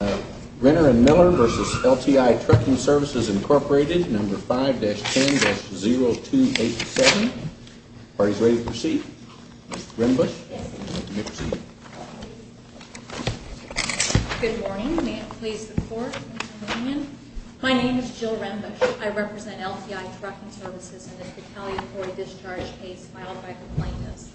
Renner and Miller v. LTI Trucking Services, Incorporated, number 5-10-0287. The party's ready to proceed. Ms. Rembush? Yes. You may proceed. Good morning. May it please the Court that I may come in? My name is Jill Rembush. I represent LTI Trucking Services in this retaliatory discharge case filed by complainants.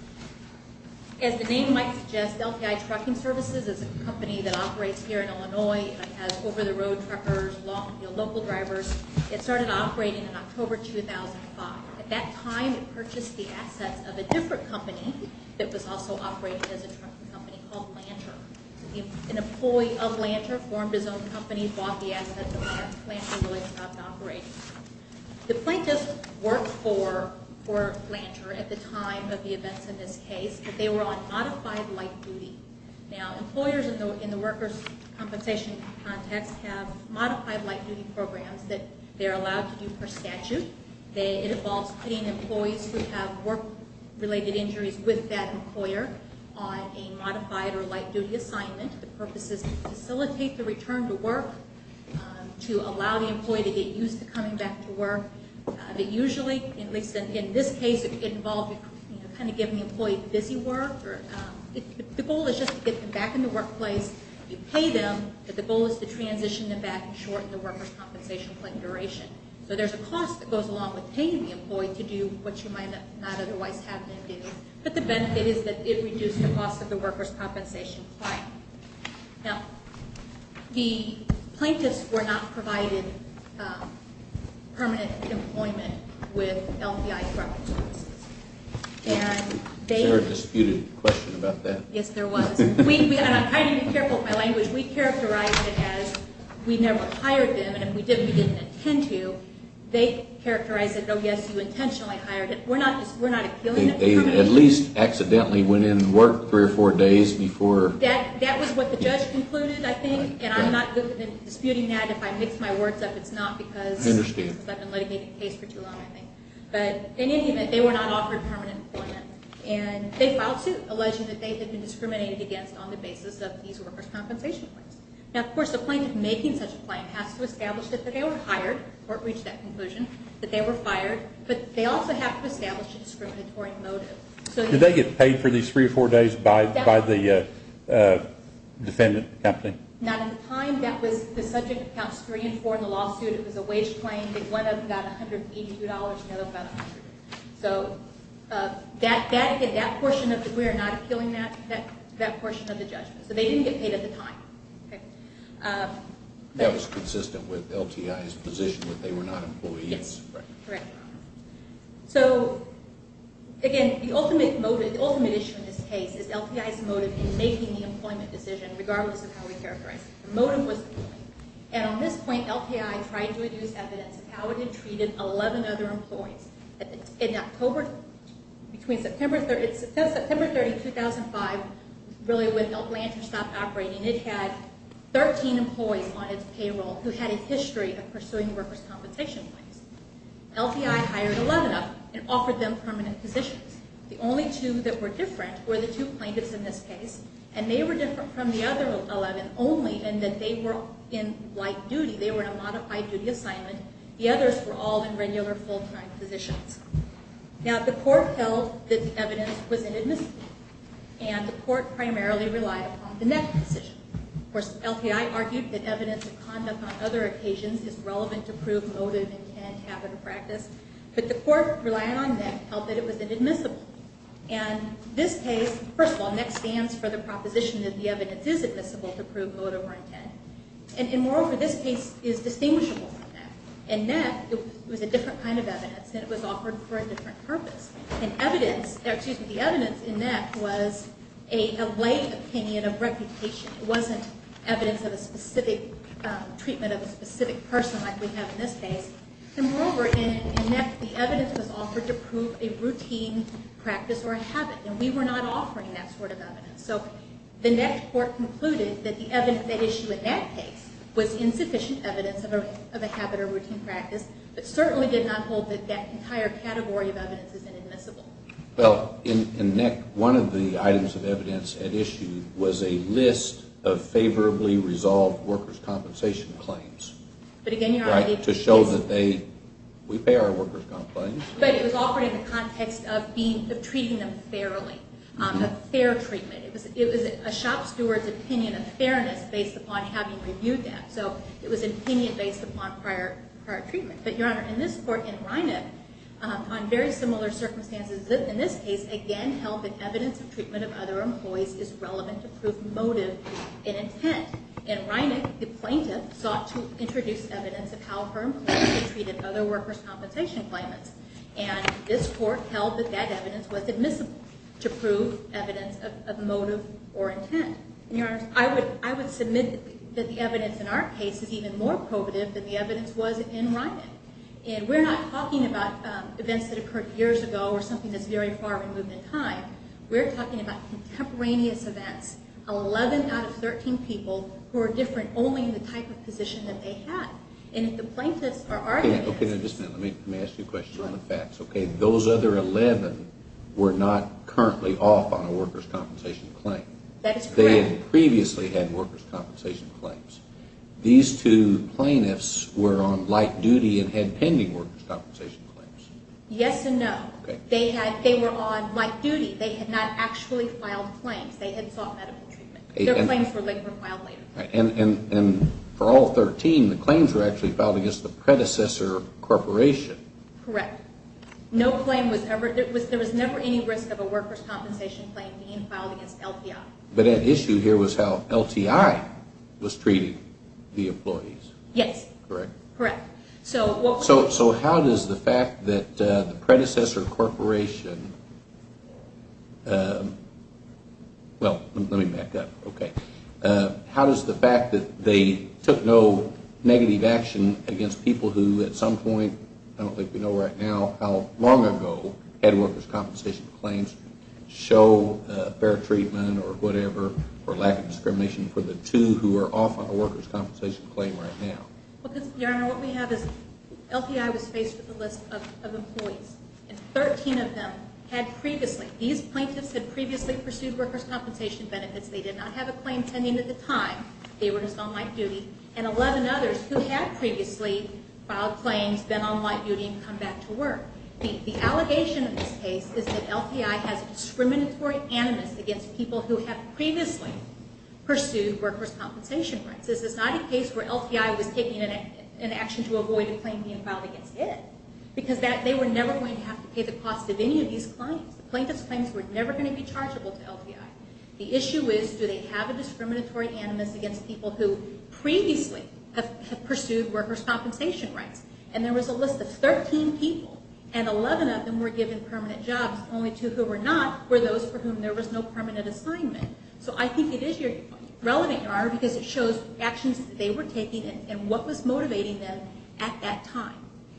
As the name might suggest, LTI Trucking Services is a company that operates here in Illinois. It has over-the-road truckers, long-deal local drivers. It started operating in October 2005. At that time, it purchased the assets of a different company that was also operating as a trucking company called Lanter. An employee of Lanter formed his own company, bought the assets of Lanter, and Lanter really stopped operating. The plaintiffs worked for Lanter at the time of the events in this case, but they were on modified light duty. Now, employers in the workers' compensation context have modified light duty programs that they're allowed to do per statute. It involves putting employees who have work-related injuries with that employer on a modified or light duty assignment. The purpose is to facilitate the return to work, to allow the employee to get used to coming back to work. Usually, at least in this case, it involved kind of giving the employee busy work. The goal is just to get them back in the workplace. You pay them, but the goal is to transition them back and shorten the workers' compensation claim duration. So there's a cost that goes along with paying the employee to do what you might not otherwise have them do, but the benefit is that it reduced the cost of the workers' compensation claim. Now, the plaintiffs were not provided permanent employment with LPI trucking services. Is there a disputed question about that? Yes, there was. And I'm trying to be careful with my language. We characterized it as we never hired them, and if we did, we didn't intend to. They characterized it, oh, yes, you intentionally hired it. They at least accidentally went in and worked three or four days before. That was what the judge concluded, I think, and I'm not disputing that. If I mix my words up, it's not because I've been letting it be the case for too long, I think. But in any event, they were not offered permanent employment, and they filed suit alleging that they had been discriminated against on the basis of these workers' compensation claims. Now, of course, the plaintiff making such a claim has to establish that they were hired or reached that conclusion, that they were fired, but they also have to establish a discriminatory motive. Did they get paid for these three or four days by the defendant company? Not at the time. That was the subject of Counts 3 and 4 in the lawsuit. It was a wage claim. One of them got $182, and the other one got $100. So we are not appealing that portion of the judgment. So they didn't get paid at the time. That was consistent with LTI's position that they were not employees? Yes. Correct. So, again, the ultimate issue in this case is LTI's motive in making the employment decision, regardless of how we characterize it. The motive was the claim. And on this point, LTI tried to use evidence of how it had treated 11 other employees. Between September 30, 2005, really when Atlanta stopped operating, it had 13 employees on its payroll who had a history of pursuing workers' compensation claims. LTI hired 11 of them and offered them permanent positions. The only two that were different were the two plaintiffs in this case, and they were different from the other 11 only in that they were in light duty. They were in a modified duty assignment. The others were all in regular full-time positions. Now, the court held that the evidence was inadmissible, and the court primarily relied upon the NEC decision. Of course, LTI argued that evidence of conduct on other occasions is relevant to prove motive, intent, habit, or practice. But the court, relying on NEC, held that it was inadmissible. And this case, first of all, NEC stands for the proposition that the evidence is admissible to prove motive or intent. And moreover, this case is distinguishable from NEC. In NEC, it was a different kind of evidence, and it was offered for a different purpose. And the evidence in NEC was a lay opinion of reputation. It wasn't evidence of a specific treatment of a specific person like we have in this case. And moreover, in NEC, the evidence was offered to prove a routine practice or a habit, and we were not offering that sort of evidence. So the NEC court concluded that the evidence at issue in that case was insufficient evidence of a habit or routine practice, but certainly did not hold that that entire category of evidence is inadmissible. Well, in NEC, one of the items of evidence at issue was a list of favorably resolved workers' compensation claims. But again, you're on the agency. Right, to show that they – we pay our workers' comp claims. But it was offered in the context of treating them fairly, a fair treatment. It was a shop steward's opinion of fairness based upon having reviewed them. So it was an opinion based upon prior treatment. But, Your Honor, in this court, in Reinach, on very similar circumstances in this case, again, held that evidence of treatment of other employees is relevant to prove motive and intent. In Reinach, the plaintiff sought to introduce evidence of how firmly they treated other workers' compensation claimants. And this court held that that evidence was admissible to prove evidence of motive or intent. And, Your Honors, I would submit that the evidence in our case is even more probative than the evidence was in Reinach. And we're not talking about events that occurred years ago or something that's very far removed in time. We're talking about contemporaneous events of 11 out of 13 people who are different only in the type of position that they had. And if the plaintiffs are arguing – Okay, now, just a minute. Let me ask you a question on the facts, okay? Those other 11 were not currently off on a workers' compensation claim. That is correct. They had previously had workers' compensation claims. These two plaintiffs were on light duty and had pending workers' compensation claims. Yes and no. Okay. They were on light duty. They had not actually filed claims. They had sought medical treatment. Their claims were filed later. And for all 13, the claims were actually filed against the predecessor corporation. Correct. No claim was ever – there was never any risk of a workers' compensation claim being filed against LTI. But at issue here was how LTI was treating the employees. Yes. Correct? Correct. So how does the fact that the predecessor corporation – well, let me back up. Okay. How does the fact that they took no negative action against people who at some point – I don't think we know right now how long ago – had workers' compensation claims show fair treatment or whatever or lack of discrimination for the two who are off on a workers' compensation claim right now? Because, Your Honor, what we have is LTI was faced with a list of employees. And 13 of them had previously – these plaintiffs had previously pursued workers' compensation benefits. They did not have a claim pending at the time. They were just on light duty. And 11 others who had previously filed claims, been on light duty, and come back to work. The allegation in this case is that LTI has discriminatory animus against people who have previously pursued workers' compensation rights. This is not a case where LTI was taking an action to avoid a claim being filed against it. Because they were never going to have to pay the cost of any of these claims. The plaintiffs' claims were never going to be chargeable to LTI. The issue is, do they have a discriminatory animus against people who previously have pursued workers' compensation rights? And there was a list of 13 people, and 11 of them were given permanent jobs, only two who were not were those for whom there was no permanent assignment. So I think it is relevant, because it shows actions that they were taking and what was motivating them at that time.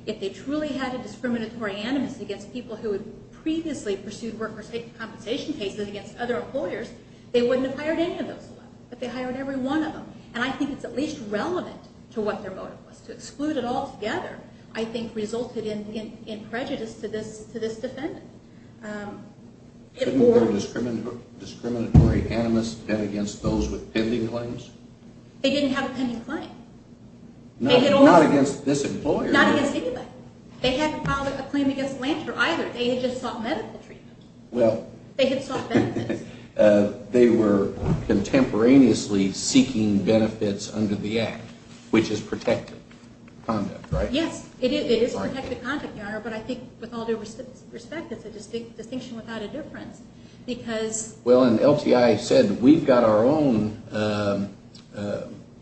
If they truly had a discriminatory animus against people who had previously pursued workers' compensation cases against other employers, they wouldn't have hired any of those 11. But they hired every one of them. And I think it's at least relevant to what their motive was. To exclude it all together, I think, resulted in prejudice to this defendant. Couldn't there be a discriminatory animus against those with pending claims? They didn't have a pending claim. Not against this employer? Not against anybody. They hadn't filed a claim against Lanter, either. They had just sought medical treatment. They had sought benefits. They were contemporaneously seeking benefits under the Act, which is protected conduct, right? Yes, it is protected conduct, Your Honor. But I think with all due respect, it's a distinction without a difference. Well, and LTI said, we've got our own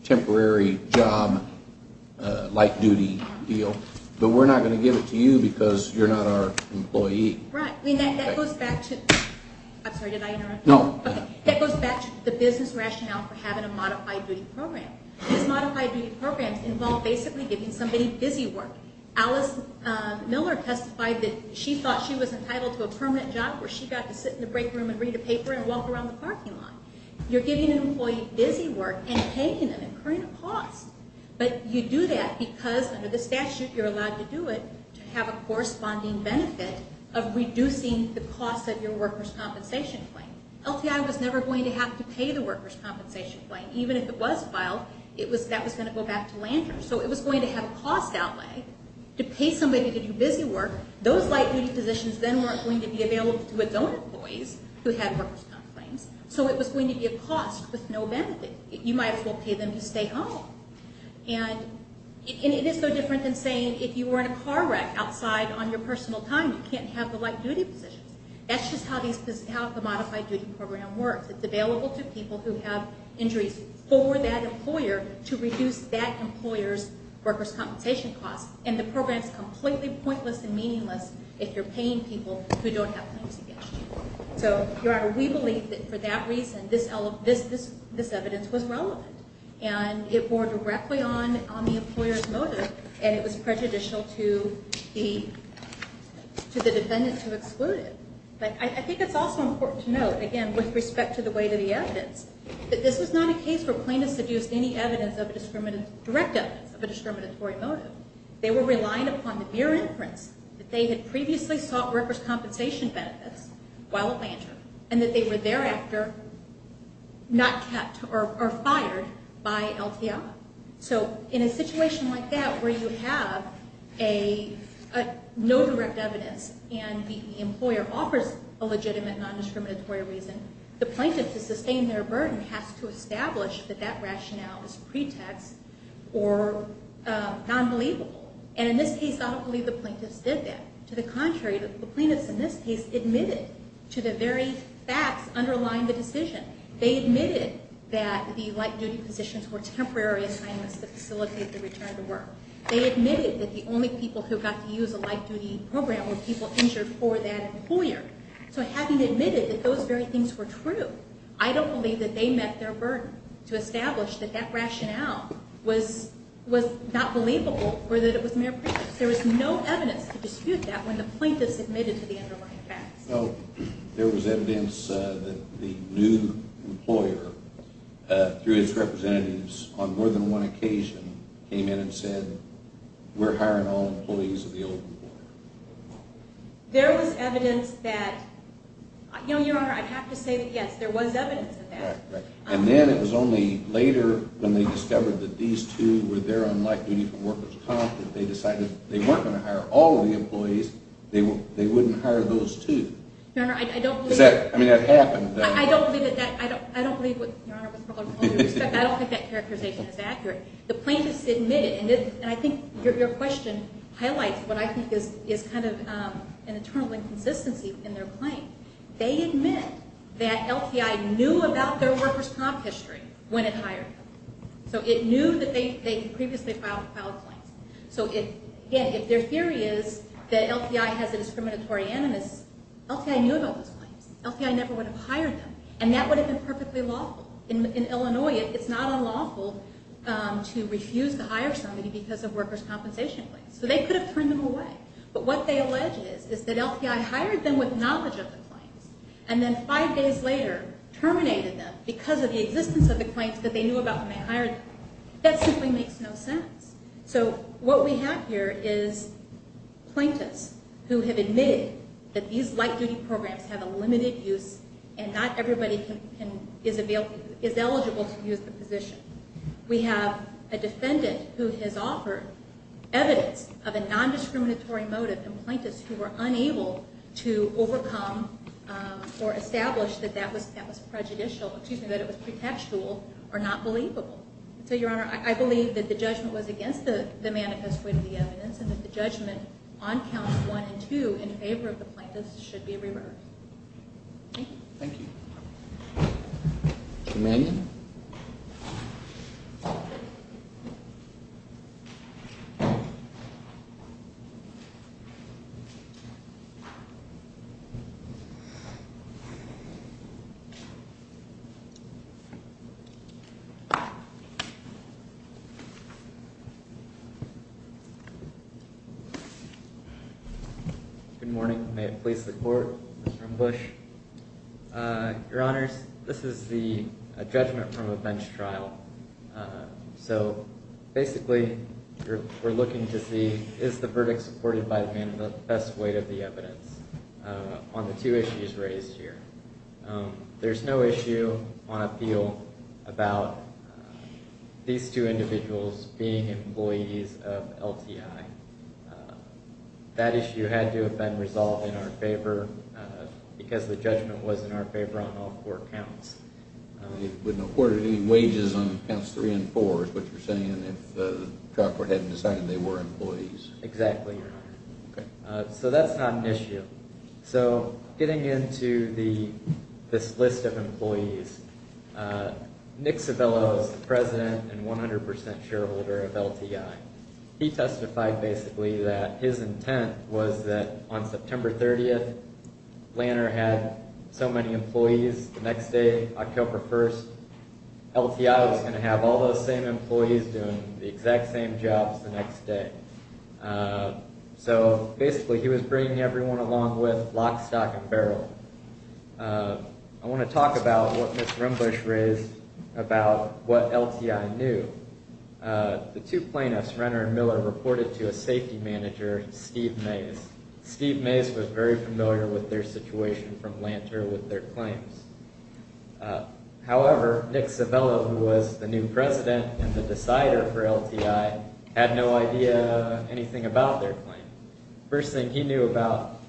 temporary job-like duty deal, but we're not going to give it to you because you're not our employee. Right. That goes back to the business rationale for having a modified duty program. These modified duty programs involve basically giving somebody busy work. Alice Miller testified that she thought she was entitled to a permanent job where she got to sit in the break room and read a paper and walk around the parking lot. You're giving an employee busy work and paying them, incurring a cost. But you do that because, under the statute, you're allowed to do it to have a corresponding benefit of reducing the cost of your workers' compensation claim. LTI was never going to have to pay the workers' compensation claim. Even if it was filed, that was going to go back to Lanter. So it was going to have a cost outlay to pay somebody to do busy work. Those light-duty positions then weren't going to be available to its own employees who had workers' comp claims, so it was going to be a cost with no benefit. You might as well pay them to stay home. And it is no different than saying if you were in a car wreck outside on your personal time, you can't have the light-duty positions. That's just how the modified duty program works. It's available to people who have injuries for that employer to reduce that employer's workers' compensation costs. And the program is completely pointless and meaningless if you're paying people who don't have claims against you. So, Your Honor, we believe that for that reason, this evidence was relevant. And it bore directly on the employer's motive, and it was prejudicial to the defendants who excluded it. I think it's also important to note, again, with respect to the weight of the evidence, that this was not a case for plaintiffs to use any direct evidence of a discriminatory motive. They were relying upon the mere inference that they had previously sought workers' compensation benefits while at Lanter, and that they were thereafter not kept or fired by LTI. So in a situation like that where you have no direct evidence and the employer offers a legitimate non-discriminatory reason, the plaintiff, to sustain their burden, has to establish that that rationale is pretext or non-believable. And in this case, I don't believe the plaintiffs did that. To the contrary, the plaintiffs in this case admitted to the very facts underlying the decision. They admitted that the light-duty positions were temporary assignments that facilitate the return to work. They admitted that the only people who got to use a light-duty program were people injured for that employer. So having admitted that those very things were true, I don't believe that they met their burden to establish that that rationale was not believable or that it was mere pretext. There was no evidence to dispute that when the plaintiffs admitted to the underlying facts. No, there was evidence that the new employer, through its representatives on more than one occasion, came in and said, we're hiring all employees of the old employer. There was evidence that... You know, Your Honor, I'd have to say that, yes, there was evidence of that. And then it was only later when they discovered that these two were there on light-duty from workers' comp that they decided they weren't going to hire all of the employees. They wouldn't hire those two. Your Honor, I don't believe... I mean, that happened. I don't believe that that... I don't believe what... Your Honor, with all due respect, I don't think that characterization is accurate. The plaintiffs admitted, and I think your question highlights what I think is kind of an internal inconsistency in their claim. They admit that LTI knew about their workers' comp history when it hired them. So it knew that they had previously filed claims. So, again, if their theory is that LTI has a discriminatory animus, LTI knew about those claims. LTI never would have hired them. And that would have been perfectly lawful. In Illinois, it's not unlawful to refuse to hire somebody because of workers' compensation claims. So they could have turned them away. But what they allege is that LTI hired them with knowledge of the claims and then five days later terminated them because of the existence of the claims that they knew about when they hired them. That simply makes no sense. So what we have here is plaintiffs who have admitted that these light-duty programs have a limited use and not everybody is eligible to use the position. We have a defendant who has offered evidence of a nondiscriminatory motive to plaintiffs who were unable to overcome or establish that that was prejudicial, excuse me, that it was pretextual or not believable. So, Your Honor, I believe that the judgment was against the manifest way of the evidence and that the judgment on Counts 1 and 2 in favor of the plaintiffs should be reversed. Thank you. Commandant. Thank you. Good morning. May it please the Court. I'm from Bush. Your Honors, this is the judgment from a bench trial. So, basically, we're looking to see is the verdict supported by the manifest way of the evidence on the two issues raised here. There's no issue on appeal about these two individuals being employees of LTI. That issue had to have been resolved in our favor because the judgment was in our favor on all four counts. It wouldn't have afforded any wages on Counts 3 and 4, is what you're saying, if the trial court hadn't decided they were employees. Exactly, Your Honor. Okay. So, that's not an issue. So, getting into this list of employees, Nick Civello is the president and 100% shareholder of LTI. He testified, basically, that his intent was that on September 30th, he had so many employees, the next day, October 1st, LTI was going to have all those same employees doing the exact same jobs the next day. So, basically, he was bringing everyone along with lock, stock, and barrel. I want to talk about what Ms. Rimbush raised about what LTI knew. The two plaintiffs, Renner and Miller, reported to a safety manager, Steve Mays. Steve Mays was very familiar with their situation from Lanter with their claims. However, Nick Civello, who was the new president and the decider for LTI, had no idea anything about their claim. First thing he knew about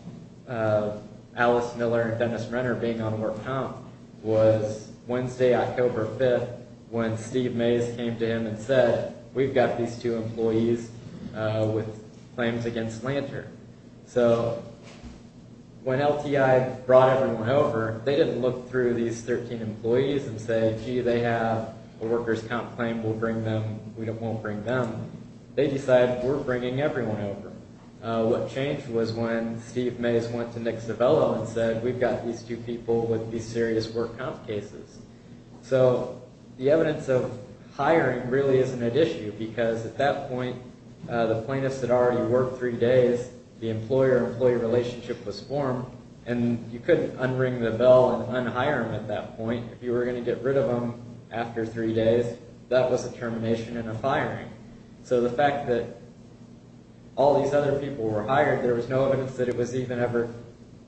Alice Miller and Dennis Renner being on more counts was Wednesday, October 5th, when Steve Mays came to him and said, we've got these two employees with claims against Lanter. So, when LTI brought everyone over, they didn't look through these 13 employees and say, gee, they have a workers' comp claim, we'll bring them, we won't bring them. They decided, we're bringing everyone over. What changed was when Steve Mays went to Nick Civello and said, we've got these two people with these serious work comp cases. So, the evidence of hiring really isn't at issue, because at that point, the plaintiffs had already worked three days, the employer-employee relationship was formed, and you couldn't unring the bell and unhire them at that point. If you were going to get rid of them after three days, that was a termination and a firing. So the fact that all these other people were hired, there was no evidence that it was even ever,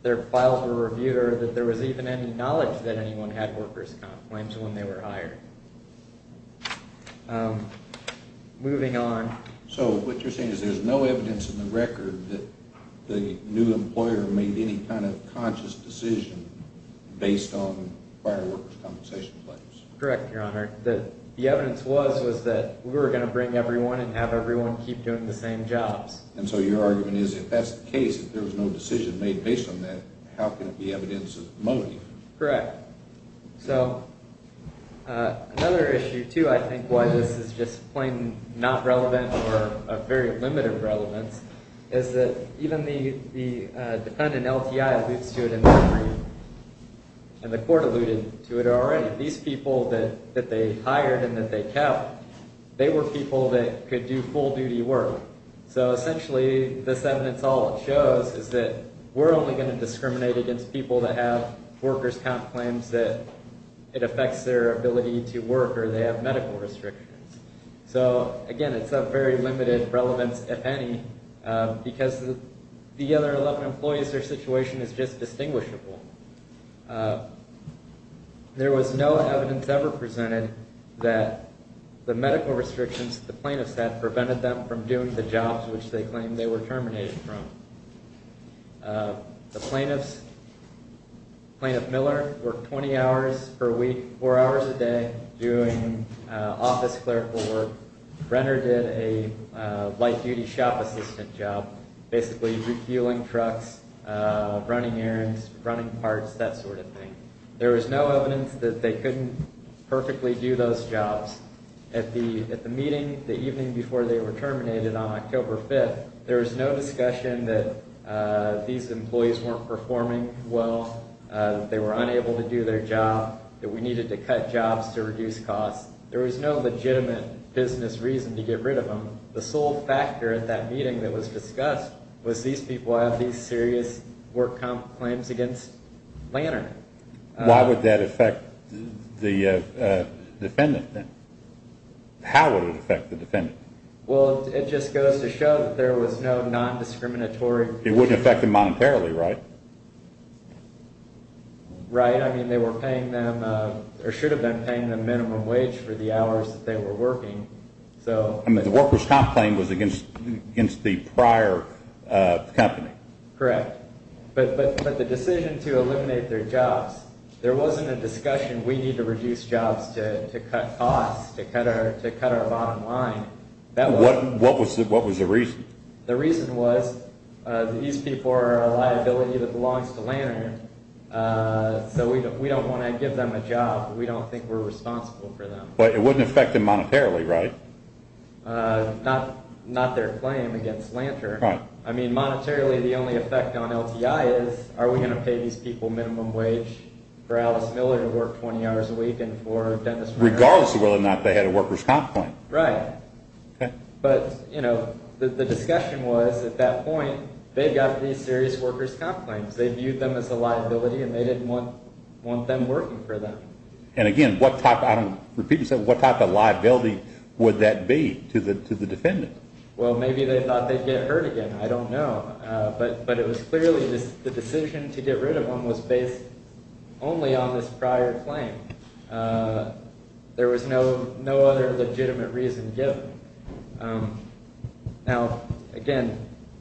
their files were reviewed or that there was even any knowledge that anyone had workers' comp claims when they were hired. Moving on. So, what you're saying is there's no evidence in the record that the new employer made any kind of conscious decision based on prior workers' compensation claims. Correct, Your Honor. The evidence was that we were going to bring everyone and have everyone keep doing the same jobs. And so your argument is if that's the case, if there was no decision made based on that, how can it be evidence of motive? Correct. So, another issue, too, I think, why this is just plain not relevant or of very limited relevance, is that even the defendant LTI alludes to it in their brief, and the court alluded to it already. These people that they hired and that they kept, they were people that could do full-duty work. So, essentially, this evidence, all it shows is that we're only going to discriminate against people that have workers' comp claims that it affects their ability to work or they have medical restrictions. So, again, it's of very limited relevance, if any, because the other 11 employees, their situation is just distinguishable. There was no evidence ever presented that the medical restrictions the plaintiffs had prevented them from doing the jobs which they claimed they were terminated from. The plaintiffs, Plaintiff Miller, worked 20 hours per week, 4 hours a day, doing office clerical work. Brenner did a light-duty shop assistant job, basically refueling trucks, running errands, running parts, that sort of thing. There was no evidence that they couldn't perfectly do those jobs. At the meeting the evening before they were terminated on October 5th, there was no discussion that these employees weren't performing well, they were unable to do their job, that we needed to cut jobs to reduce costs. There was no legitimate business reason to get rid of them. The sole factor at that meeting that was discussed was these people have these serious work comp claims against Lantern. Why would that affect the defendant? How would it affect the defendant? Well, it just goes to show that there was no non-discriminatory... It wouldn't affect them monetarily, right? Right. I mean, they were paying them, or should have been paying them minimum wage for the hours that they were working. I mean, the workers' comp claim was against the prior company. Correct. But the decision to eliminate their jobs, there wasn't a discussion, we need to reduce jobs to cut costs, to cut our bottom line. What was the reason? The reason was these people are a liability that belongs to Lantern, so we don't want to give them a job. We don't think we're responsible for them. But it wouldn't affect them monetarily, right? Not their claim against Lantern. I mean, monetarily the only effect on LTI is, are we going to pay these people minimum wage for Alice Miller to work 20 hours a week and for Dennis... Regardless of whether or not they had a workers' comp claim. Right. But, you know, the discussion was at that point, they got these serious workers' comp claims. They viewed them as a liability and they didn't want them working for them. And again, what type of liability would that be to the defendant? Well, maybe they thought they'd get hurt again. I don't know. But it was clearly the decision to get rid of them was based only on this prior claim. There was no other legitimate reason given. Now, again,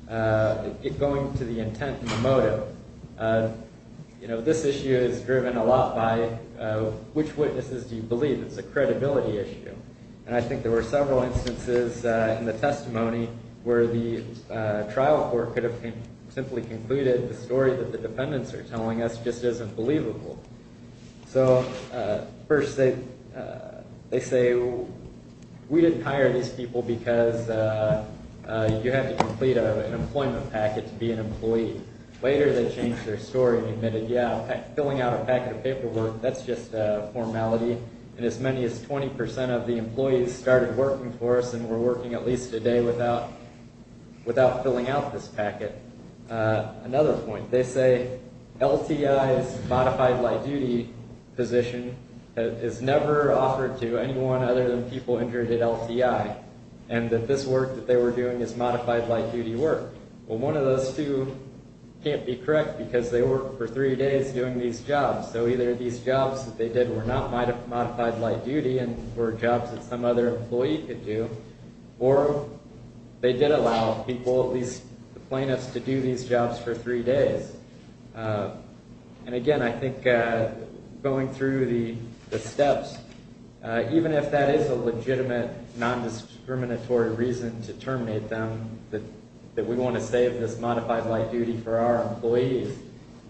going to the intent and the motive, you know, this issue is driven a lot by which witnesses do you believe. It's a credibility issue. And I think there were several instances in the testimony where the trial court could have simply concluded the story that the defendants are telling us just isn't believable. So, first, they say, we didn't hire these people because you have to complete an employment packet to be an employee. Later, they changed their story and admitted, yeah, filling out a packet of paperwork, that's just formality. And as many as 20% of the employees started working for us and were working at least a day without filling out this packet. Another point. They say LTI's modified light-duty position is never offered to anyone other than people injured at LTI, and that this work that they were doing is modified light-duty work. Well, one of those two can't be correct because they worked for three days doing these jobs. So either these jobs that they did were not modified light-duty and were jobs that some other employee could do, or they did allow people, at least the plaintiffs, to do these jobs for three days. And, again, I think going through the steps, even if that is a legitimate, non-discriminatory reason to terminate them, that we want to save this modified light-duty for our employees,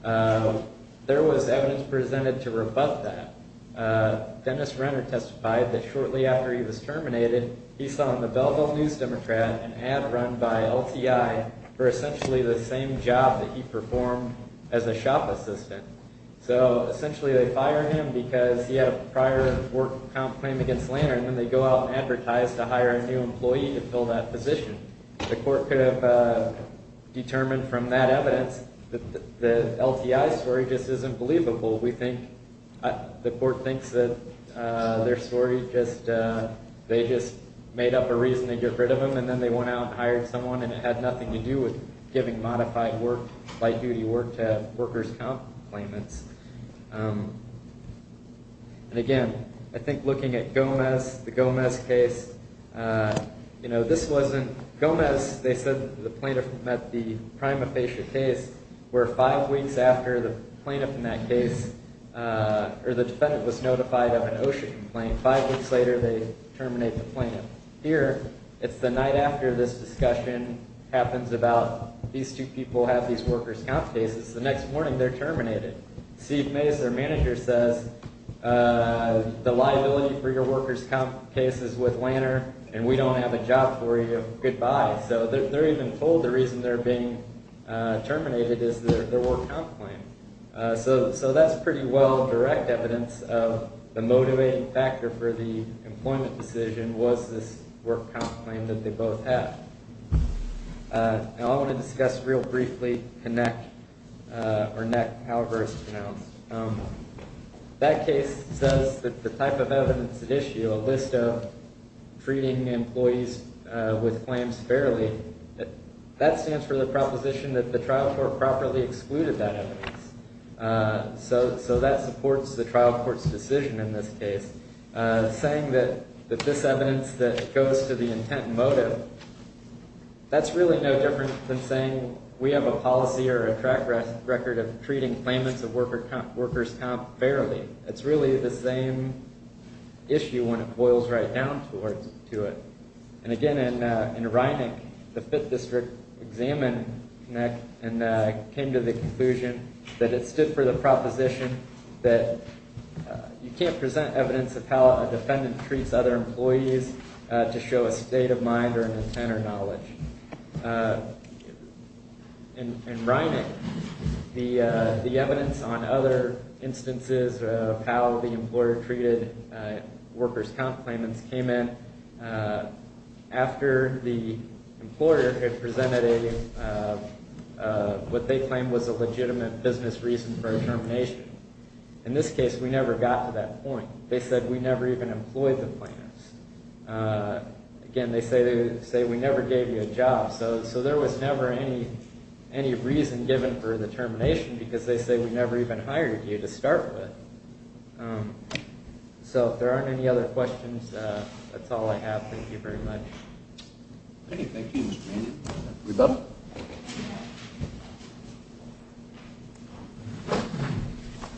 there was evidence presented to rebut that. Dennis Renner testified that shortly after he was terminated, he saw in the Belleville News Democrat an ad run by LTI for essentially the same job that he performed as a shop assistant. So essentially they fired him because he had a prior work comp claim against Lehner, and then they go out and advertise to hire a new employee to fill that position. The court could have determined from that evidence that the LTI story just isn't believable. We think the court thinks that their story just made up a reason to get rid of him, and then they went out and hired someone, and it had nothing to do with giving modified light-duty work to workers' comp claimants. And, again, I think looking at Gomez, the Gomez case, you know, this wasn't Gomez. They said the plaintiff met the prima facie case, where five weeks after the plaintiff met that case, or the defendant was notified of an OSHA complaint, five weeks later they terminate the plaintiff. Here, it's the night after this discussion happens about these two people have these workers' comp cases, the next morning they're terminated. Steve Mays, their manager, says the liability for your workers' comp case is with Lehner, and we don't have a job for you. Goodbye. So they're even told the reason they're being terminated is their workers' comp claim. So that's pretty well direct evidence of the motivating factor for the employment decision was this workers' comp claim that they both have. I want to discuss real briefly Connect, or NEC, however it's pronounced. That case says that the type of evidence at issue, a list of treating employees with claims fairly, that stands for the proposition that the trial court properly excluded that evidence. So that supports the trial court's decision in this case, saying that this evidence that goes to the intent and motive, that's really no different than saying we have a policy or a track record of treating claimants of workers' comp fairly. It's really the same issue when it boils right down to it. And again, in Reineck, the Fifth District examined Connect and came to the conclusion that it stood for the proposition that you can't present evidence of how a defendant treats other employees to show a state of mind or an intent or knowledge. In Reineck, the evidence on other instances of how the employer treated workers' comp claimants came in after the employer had presented a, what they claimed was a legitimate business reason for termination. In this case, we never got to that point. They said we never even employed the claimants. Again, they say we never gave you a job. So there was never any reason given for the termination because they say we never even hired you to start with. So if there aren't any other questions, that's all I have. Thank you very much. Thank you, Mr. Manning. Rebecca?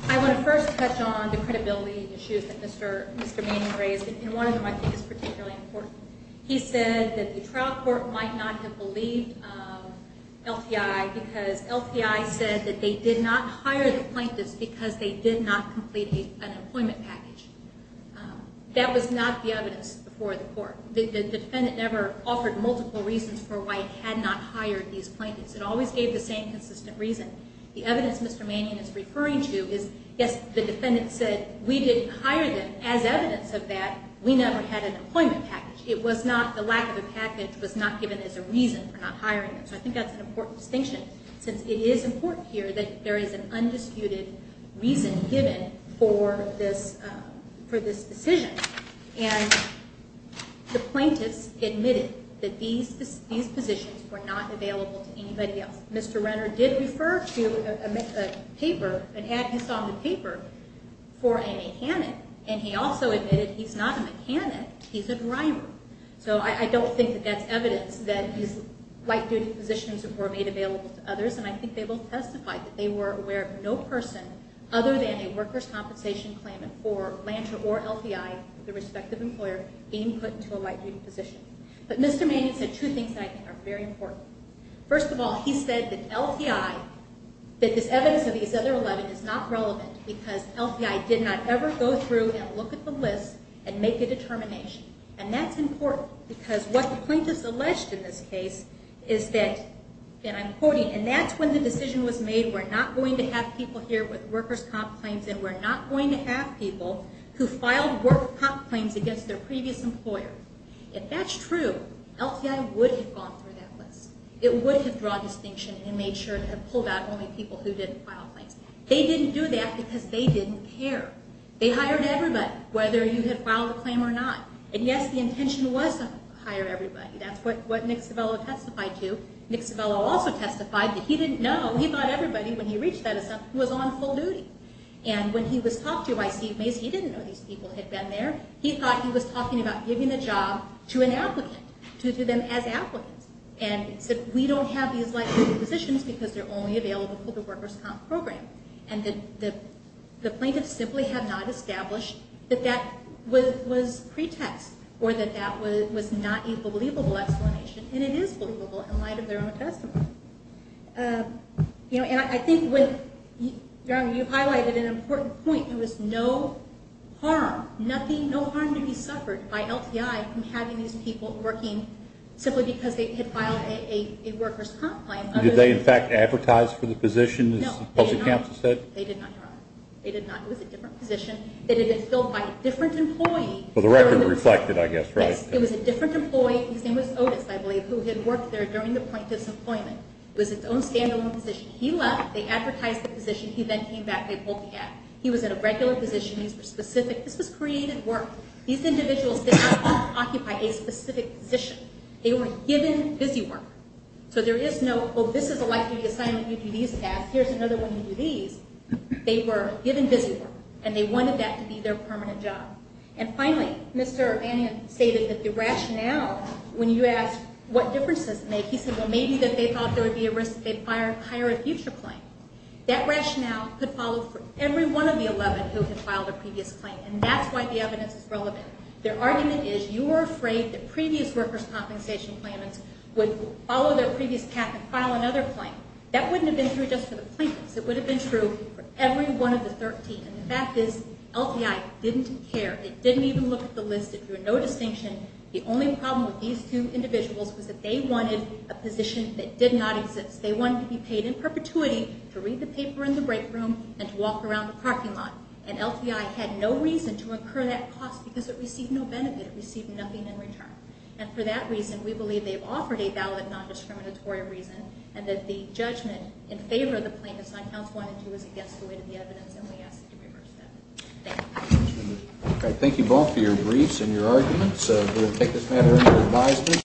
I want to first touch on the credibility issues that Mr. Manning raised, and one of them I think is particularly important. He said that the trial court might not have believed LTI because LTI said that they did not hire the plaintiffs because they did not complete an employment package. That was not the evidence before the court. The defendant never offered multiple reasons for why it had not hired these plaintiffs. It always gave the same consistent reason. The evidence Mr. Manning is referring to is, yes, the defendant said we didn't hire them. As evidence of that, we never had an employment package. It was not, the lack of a package was not given as a reason for not hiring them. So I think that's an important distinction since it is important here that there is an undisputed reason given for this decision. And the plaintiffs admitted that these positions were not available to anybody else. Mr. Renner did refer to a paper and had this on the paper for a mechanic, and he also admitted he's not a mechanic, he's a driver. So I don't think that that's evidence that his life-duty positions were made available to others, and I think they both testified that they were aware of no person other than a workers' compensation claimant for Lanter or LTI, the respective employer, being put into a life-duty position. But Mr. Manning said two things that I think are very important. First of all, he said that LTI, that this evidence of these other 11 is not relevant because LTI did not ever go through and look at the list and make a determination, and that's important because what the plaintiffs alleged in this case is that, and I'm quoting, and that's when the decision was made, we're not going to have people here with workers' comp claims and we're not going to have people who filed workers' comp claims against their previous employer. If that's true, LTI would have gone through that list. It would have drawn distinction and made sure it had pulled out only people who didn't file claims. They didn't do that because they didn't care. They hired everybody, whether you had filed a claim or not. And yes, the intention was to hire everybody. That's what Nick Civello testified to. Nick Civello also testified that he didn't know. He thought everybody, when he reached that assumption, was on full duty. And when he was talked to by Steve Mays, he didn't know these people had been there. He thought he was talking about giving the job to an applicant, to them as applicants, and said we don't have these life-duty positions because they're only available for the workers' comp program. And the plaintiffs simply had not established that that was pretext or that that was not a believable explanation. And it is believable in light of their own testimony. And I think when you highlighted an important point, there was no harm, no harm to be suffered by LTI from having these people working simply because they had filed a workers' comp claim. Did they, in fact, advertise for the position, as the public counsel said? No, they did not. They did not. It was a different position. It had been filled by a different employee. Well, the record reflected, I guess, right? Yes. It was a different employee. His name was Otis, I believe, who had worked there during the plaintiff's employment. It was its own stand-alone position. He left. They advertised the position. He then came back. They pulled the act. He was in a regular position. These were specific. This was created work. These individuals did not occupy a specific position. They were given busy work. So there is no, oh, this is a life-duty assignment. You do these tasks. Here's another one. You do these. They were given busy work, and they wanted that to be their permanent job. And finally, Mr. O'Banion stated that the rationale, when you asked what difference does it make, he said, well, maybe that they thought there would be a risk that they'd hire a future claim. That rationale could follow for every one of the 11 who had filed a previous claim, and that's why the evidence is relevant. Their argument is you were afraid that previous workers' compensation claimants would follow their previous path and file another claim. That wouldn't have been true just for the plaintiffs. It would have been true for every one of the 13. And the fact is LTI didn't care. It didn't even look at the list. It drew no distinction. The only problem with these two individuals was that they wanted a position that did not exist. They wanted to be paid in perpetuity to read the paper in the break room and to walk around the parking lot. And LTI had no reason to incur that cost because it received no benefit. It received nothing in return. And for that reason, we believe they've offered a valid non-discriminatory reason and that the judgment in favor of the plaintiffs on counts 1 and 2 is against the weight of the evidence, and we ask that you reverse that. Thank you. Thank you both for your briefs and your arguments. We'll take this matter into advisement.